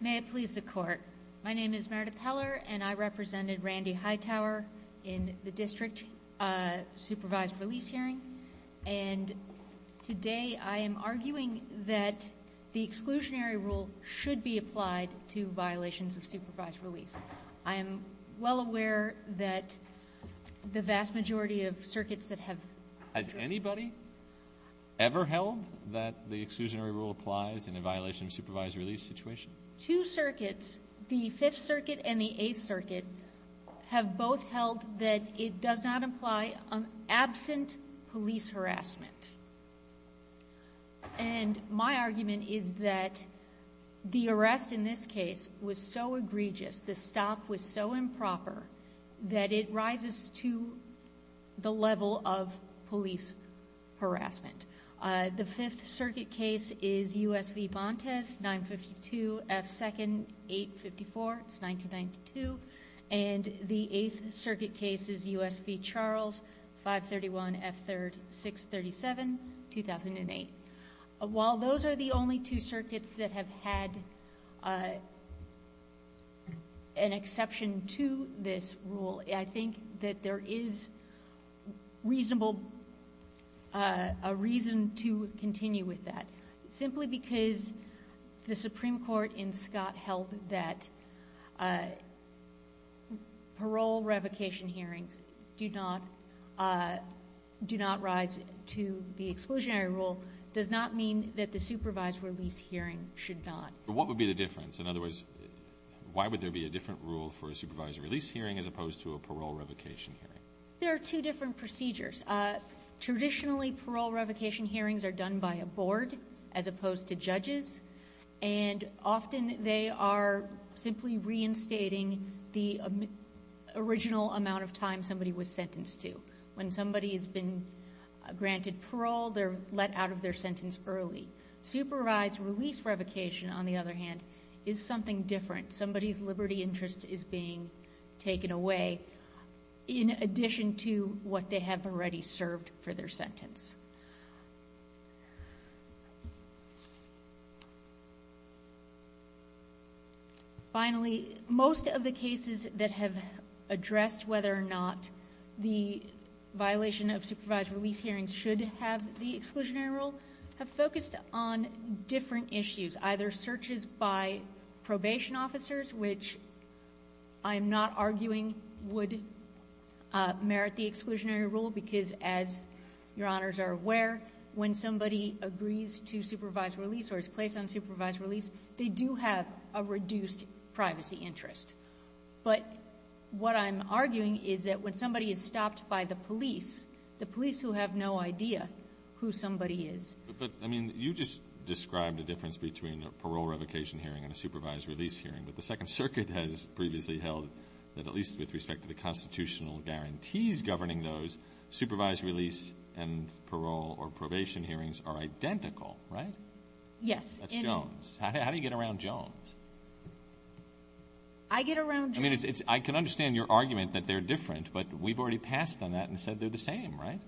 May it please the court. My name is Merida Peller and I represented Randy Hightower in the district supervised release hearing. And today I am arguing that the exclusionary rule should be applied to violations of supervised release. I am well aware that the vast majority of circuits that have... Has anybody ever held that the exclusionary rule applies in a violation of supervised release situation? Two circuits, the fifth circuit and the eighth circuit have both held that it does not apply on absent police harassment. And my argument is that the arrest in this case was so egregious, the stop was so improper that it rises to the level of police harassment. The fifth circuit case is U.S. v. Bontes, 952 F. 2nd, 854, it's 1992. And the eighth circuit case is U.S. v. Charles, 531 F. 3rd, 637, 2008. While those are the only two circuits that have had an exception to this rule, I think that there is reasonable... A reason to continue with that. Simply because the Supreme Court in Scott held that parole revocation hearings do not rise to the exclusionary rule does not mean that the supervised release hearing should not. But what would be the difference? In other words, why would there be a different rule for a supervised release hearing as opposed to a parole revocation hearing? There are two different procedures. Traditionally, parole revocation hearings are done by a board as opposed to judges. And often they are simply reinstating the original amount of time somebody was sentenced to. When somebody has been granted parole, they're let out of their sentence early. Supervised release revocation, on the other hand, is something different. Somebody's liberty interest is being taken away in addition to what they have already served for their sentence. Finally, most of the cases that have addressed whether or not the violation of supervised release hearings should have the exclusionary rule have focused on different issues. Either searches by probation officers, which I'm not arguing would merit the exclusionary rule, because as Your Honors are aware, when somebody agrees to supervised release or is placed on supervised release, they do have a reduced privacy interest. But what I'm arguing is that when somebody is stopped by the police, the police who have no idea who somebody is. But, I mean, you just described a difference between a parole revocation hearing and a supervised release hearing. But the Second Circuit has previously held that at least with respect to the constitutional guarantees governing those, supervised release and parole or probation hearings are identical, right? Yes. That's Jones. How do you get around Jones? I get around Jones. I mean, I can understand your argument that they're different, but we've already passed on that and said they're the same, right?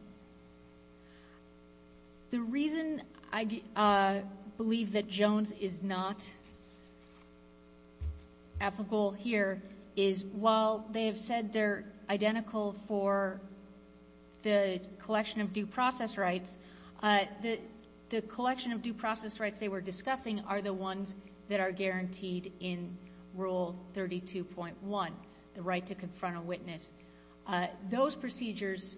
The reason I believe that Jones is not applicable here is while they have said they're identical for the collection of due process rights, the collection of due process rights they were discussing are the ones that are guaranteed in Rule 32.1, the right to confront a witness. Those procedures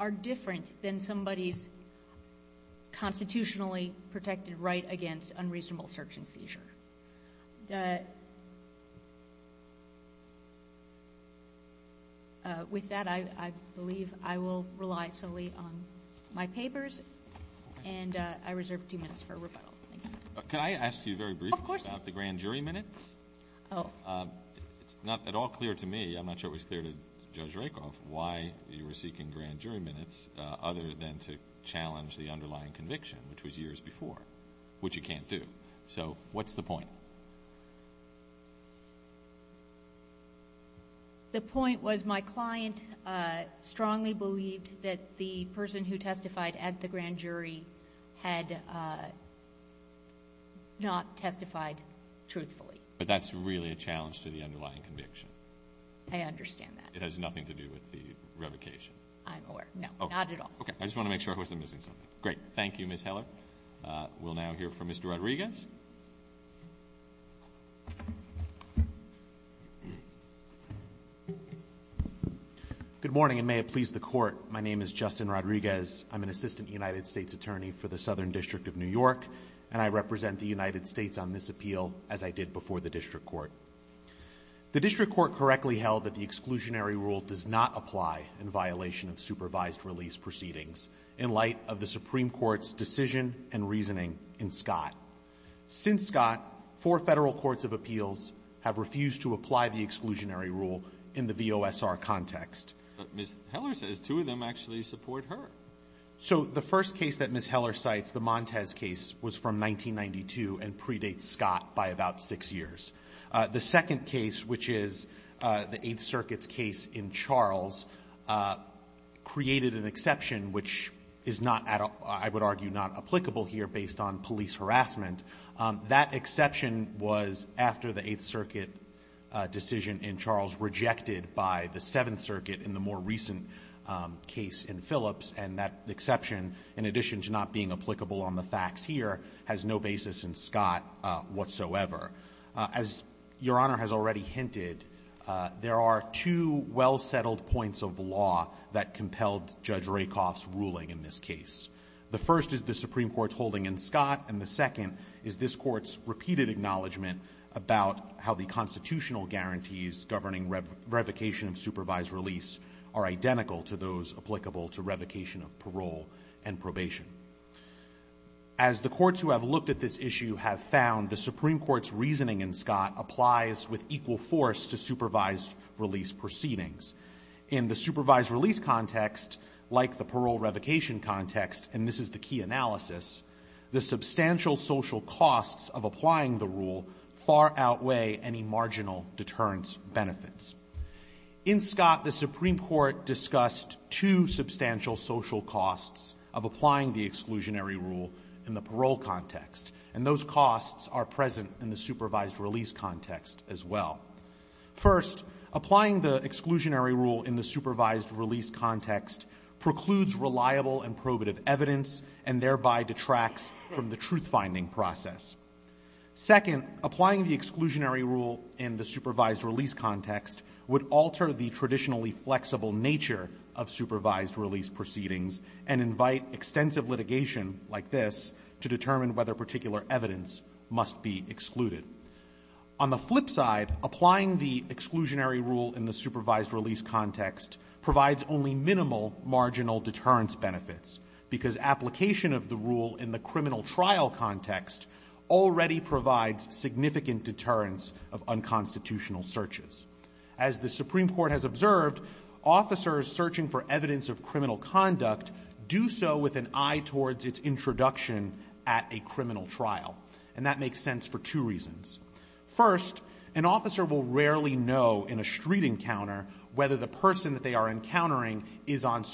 are different than somebody's constitutionally protected right against unreasonable search and seizure. With that, I believe I will rely solely on my papers and I reserve two minutes for rebuttal. Thank you. Can I ask you very briefly about the grand jury minutes? Of course. It's not at all clear to me, I'm not sure it was clear to Judge Rakoff, why you were seeking grand jury minutes other than to challenge the underlying conviction, which was years before, which you can't do. So what's the point? The point was my client strongly believed that the person who testified at the grand jury had not testified truthfully. But that's really a challenge to the underlying conviction. I understand that. It has nothing to do with the revocation. I'm aware. No. Not at all. Okay. I just want to make sure I wasn't missing something. Great. Thank you, Ms. Heller. We'll now hear from Mr. Rodriguez. Good morning, and may it please the Court, my name is Justin Rodriguez. I'm an assistant United States attorney for the Southern District of New York, and I represent the United States on this appeal as I did before the district court. The district court correctly held that the exclusionary rule does not apply in violation of supervised release proceedings in light of the Supreme Court's decision and reasoning in Scott. Since Scott, four Federal courts of appeals have refused to apply the exclusionary rule in the VOSR context. But Ms. Heller says two of them actually support her. So the first case that Ms. Heller cites, the Montes case, was from 1992 and predates Scott by about six years. The second case, which is the Eighth Circuit's case in Charles, created an exception which is not, I would argue, not applicable here based on police harassment. That exception was after the Eighth Circuit decision in Charles rejected by the Seventh Circuit in a recent case in Phillips, and that exception, in addition to not being applicable on the facts here, has no basis in Scott whatsoever. As Your Honor has already hinted, there are two well-settled points of law that compelled Judge Rakoff's ruling in this case. The first is the Supreme Court's holding in Scott, and the second is this Court's repeated acknowledgment about how the constitutional guarantees governing revocation of supervised release are identical to those applicable to revocation of parole and probation. As the courts who have looked at this issue have found, the Supreme Court's reasoning in Scott applies with equal force to supervised release proceedings. In the supervised release context, like the parole revocation context, and this is the key analysis, the substantial social costs of applying the rule far outweigh any marginal deterrence benefits. In Scott, the Supreme Court discussed two substantial social costs of applying the exclusionary rule in the parole context, and those costs are present in the supervised release context as well. First, applying the exclusionary rule in the supervised release context precludes reliable and probative evidence and thereby detracts from the truth-finding process. Second, applying the exclusionary rule in the supervised release context would alter the traditionally flexible nature of supervised release proceedings and invite extensive litigation like this to determine whether particular evidence must be excluded. On the flip side, applying the exclusionary rule in the supervised release context provides only minimal marginal deterrence benefits, because application of the rule in the criminal trial context already provides significant deterrence of unconstitutional searches. As the Supreme Court has observed, officers searching for evidence of criminal conduct do so with an eye towards its introduction at a criminal trial, and that makes sense for two reasons. First, an officer will rarely know in a street encounter whether the person that they are encountering is on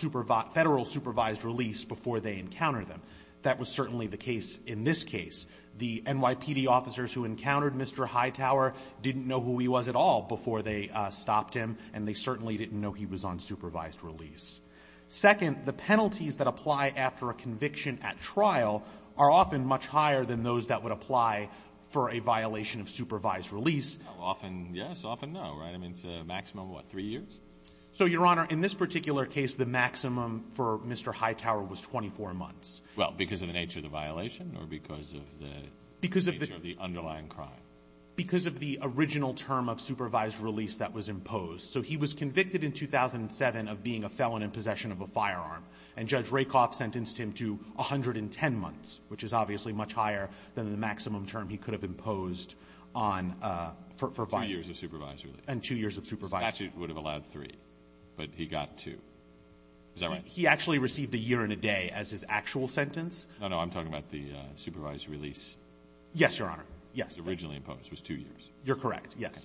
federal supervised release before they encounter them. That was certainly the case in this case. The NYPD officers who encountered Mr. Hightower didn't know who he was at all before they stopped him, and they certainly didn't know he was on supervised release. Second, the penalties that apply after a conviction at trial are often much higher than those that would apply for a violation of supervised release. Often, yes. Often, no. Right? I mean, it's a maximum of, what, three years? So, Your Honor, in this particular case, the maximum for Mr. Hightower was 24 months. Well, because of the nature of the violation or because of the nature of the underlying crime? Because of the original term of supervised release that was imposed. So he was convicted in 2007 of being a felon in possession of a firearm, and Judge Rakoff sentenced him to 110 months, which is obviously much higher than the maximum term he could have imposed on, for violation. Two years of supervised release. And two years of supervised release. The statute would have allowed three, but he got two. Is that right? He actually received a year and a day as his actual sentence. No, no. I'm talking about the supervised release. Yes, Your Honor. Yes. It was originally imposed. It was two years. You're correct. Yes.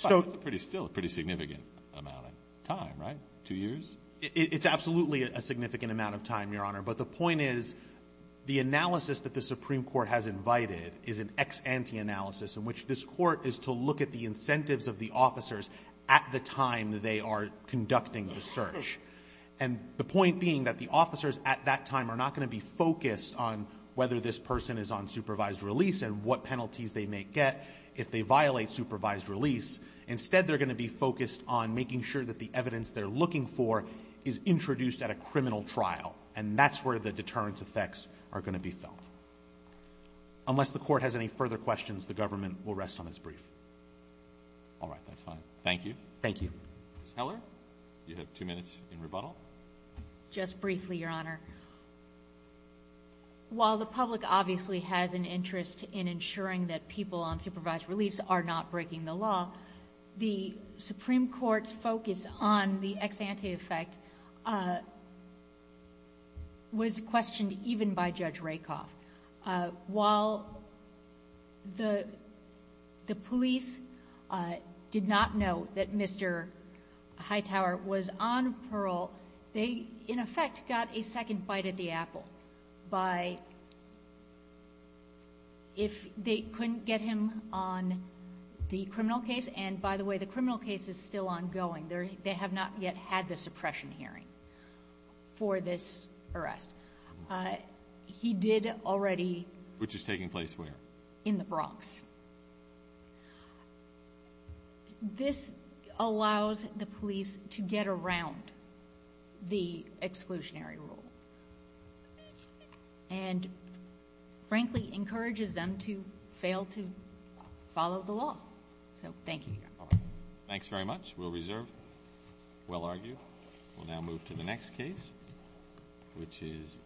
But that's still a pretty significant amount of time, right? Two years? It's absolutely a significant amount of time, Your Honor. But the point is, the analysis that the Supreme Court has invited is an ex-ante analysis in which this Court is to look at the incentives of the officers at the time that they are conducting the search. And the point being that the officers at that time are not going to be focused on whether this person is on supervised release and what penalties they may get if they violate supervised release. Instead, they're going to be focused on making sure that the evidence they're looking for is introduced at a criminal trial. And that's where the deterrence effects are going to be felt. Unless the Court has any further questions, the government will rest on its brief. All right. That's fine. Thank you. Thank you. Ms. Heller, you have two minutes in rebuttal. Just briefly, Your Honor. While the public obviously has an interest in ensuring that people on supervised release are not breaking the law, the Supreme Court's focus on the ex-ante effect was questioned even by Judge Rakoff. While the police did not know that Mr. Hightower was on parole, they, in effect, got a second bite at the apple by if they couldn't get him on the criminal case. And by the way, the criminal case is still ongoing. They have not yet had the suppression hearing for this arrest. He did already... Which is taking place where? In the Bronx. This allows the police to get around the exclusionary rule and, frankly, encourages them to fail to follow the law. So, thank you, Your Honor. Thanks very much. We'll reserve. We'll argue. We'll now move to the next case, which is...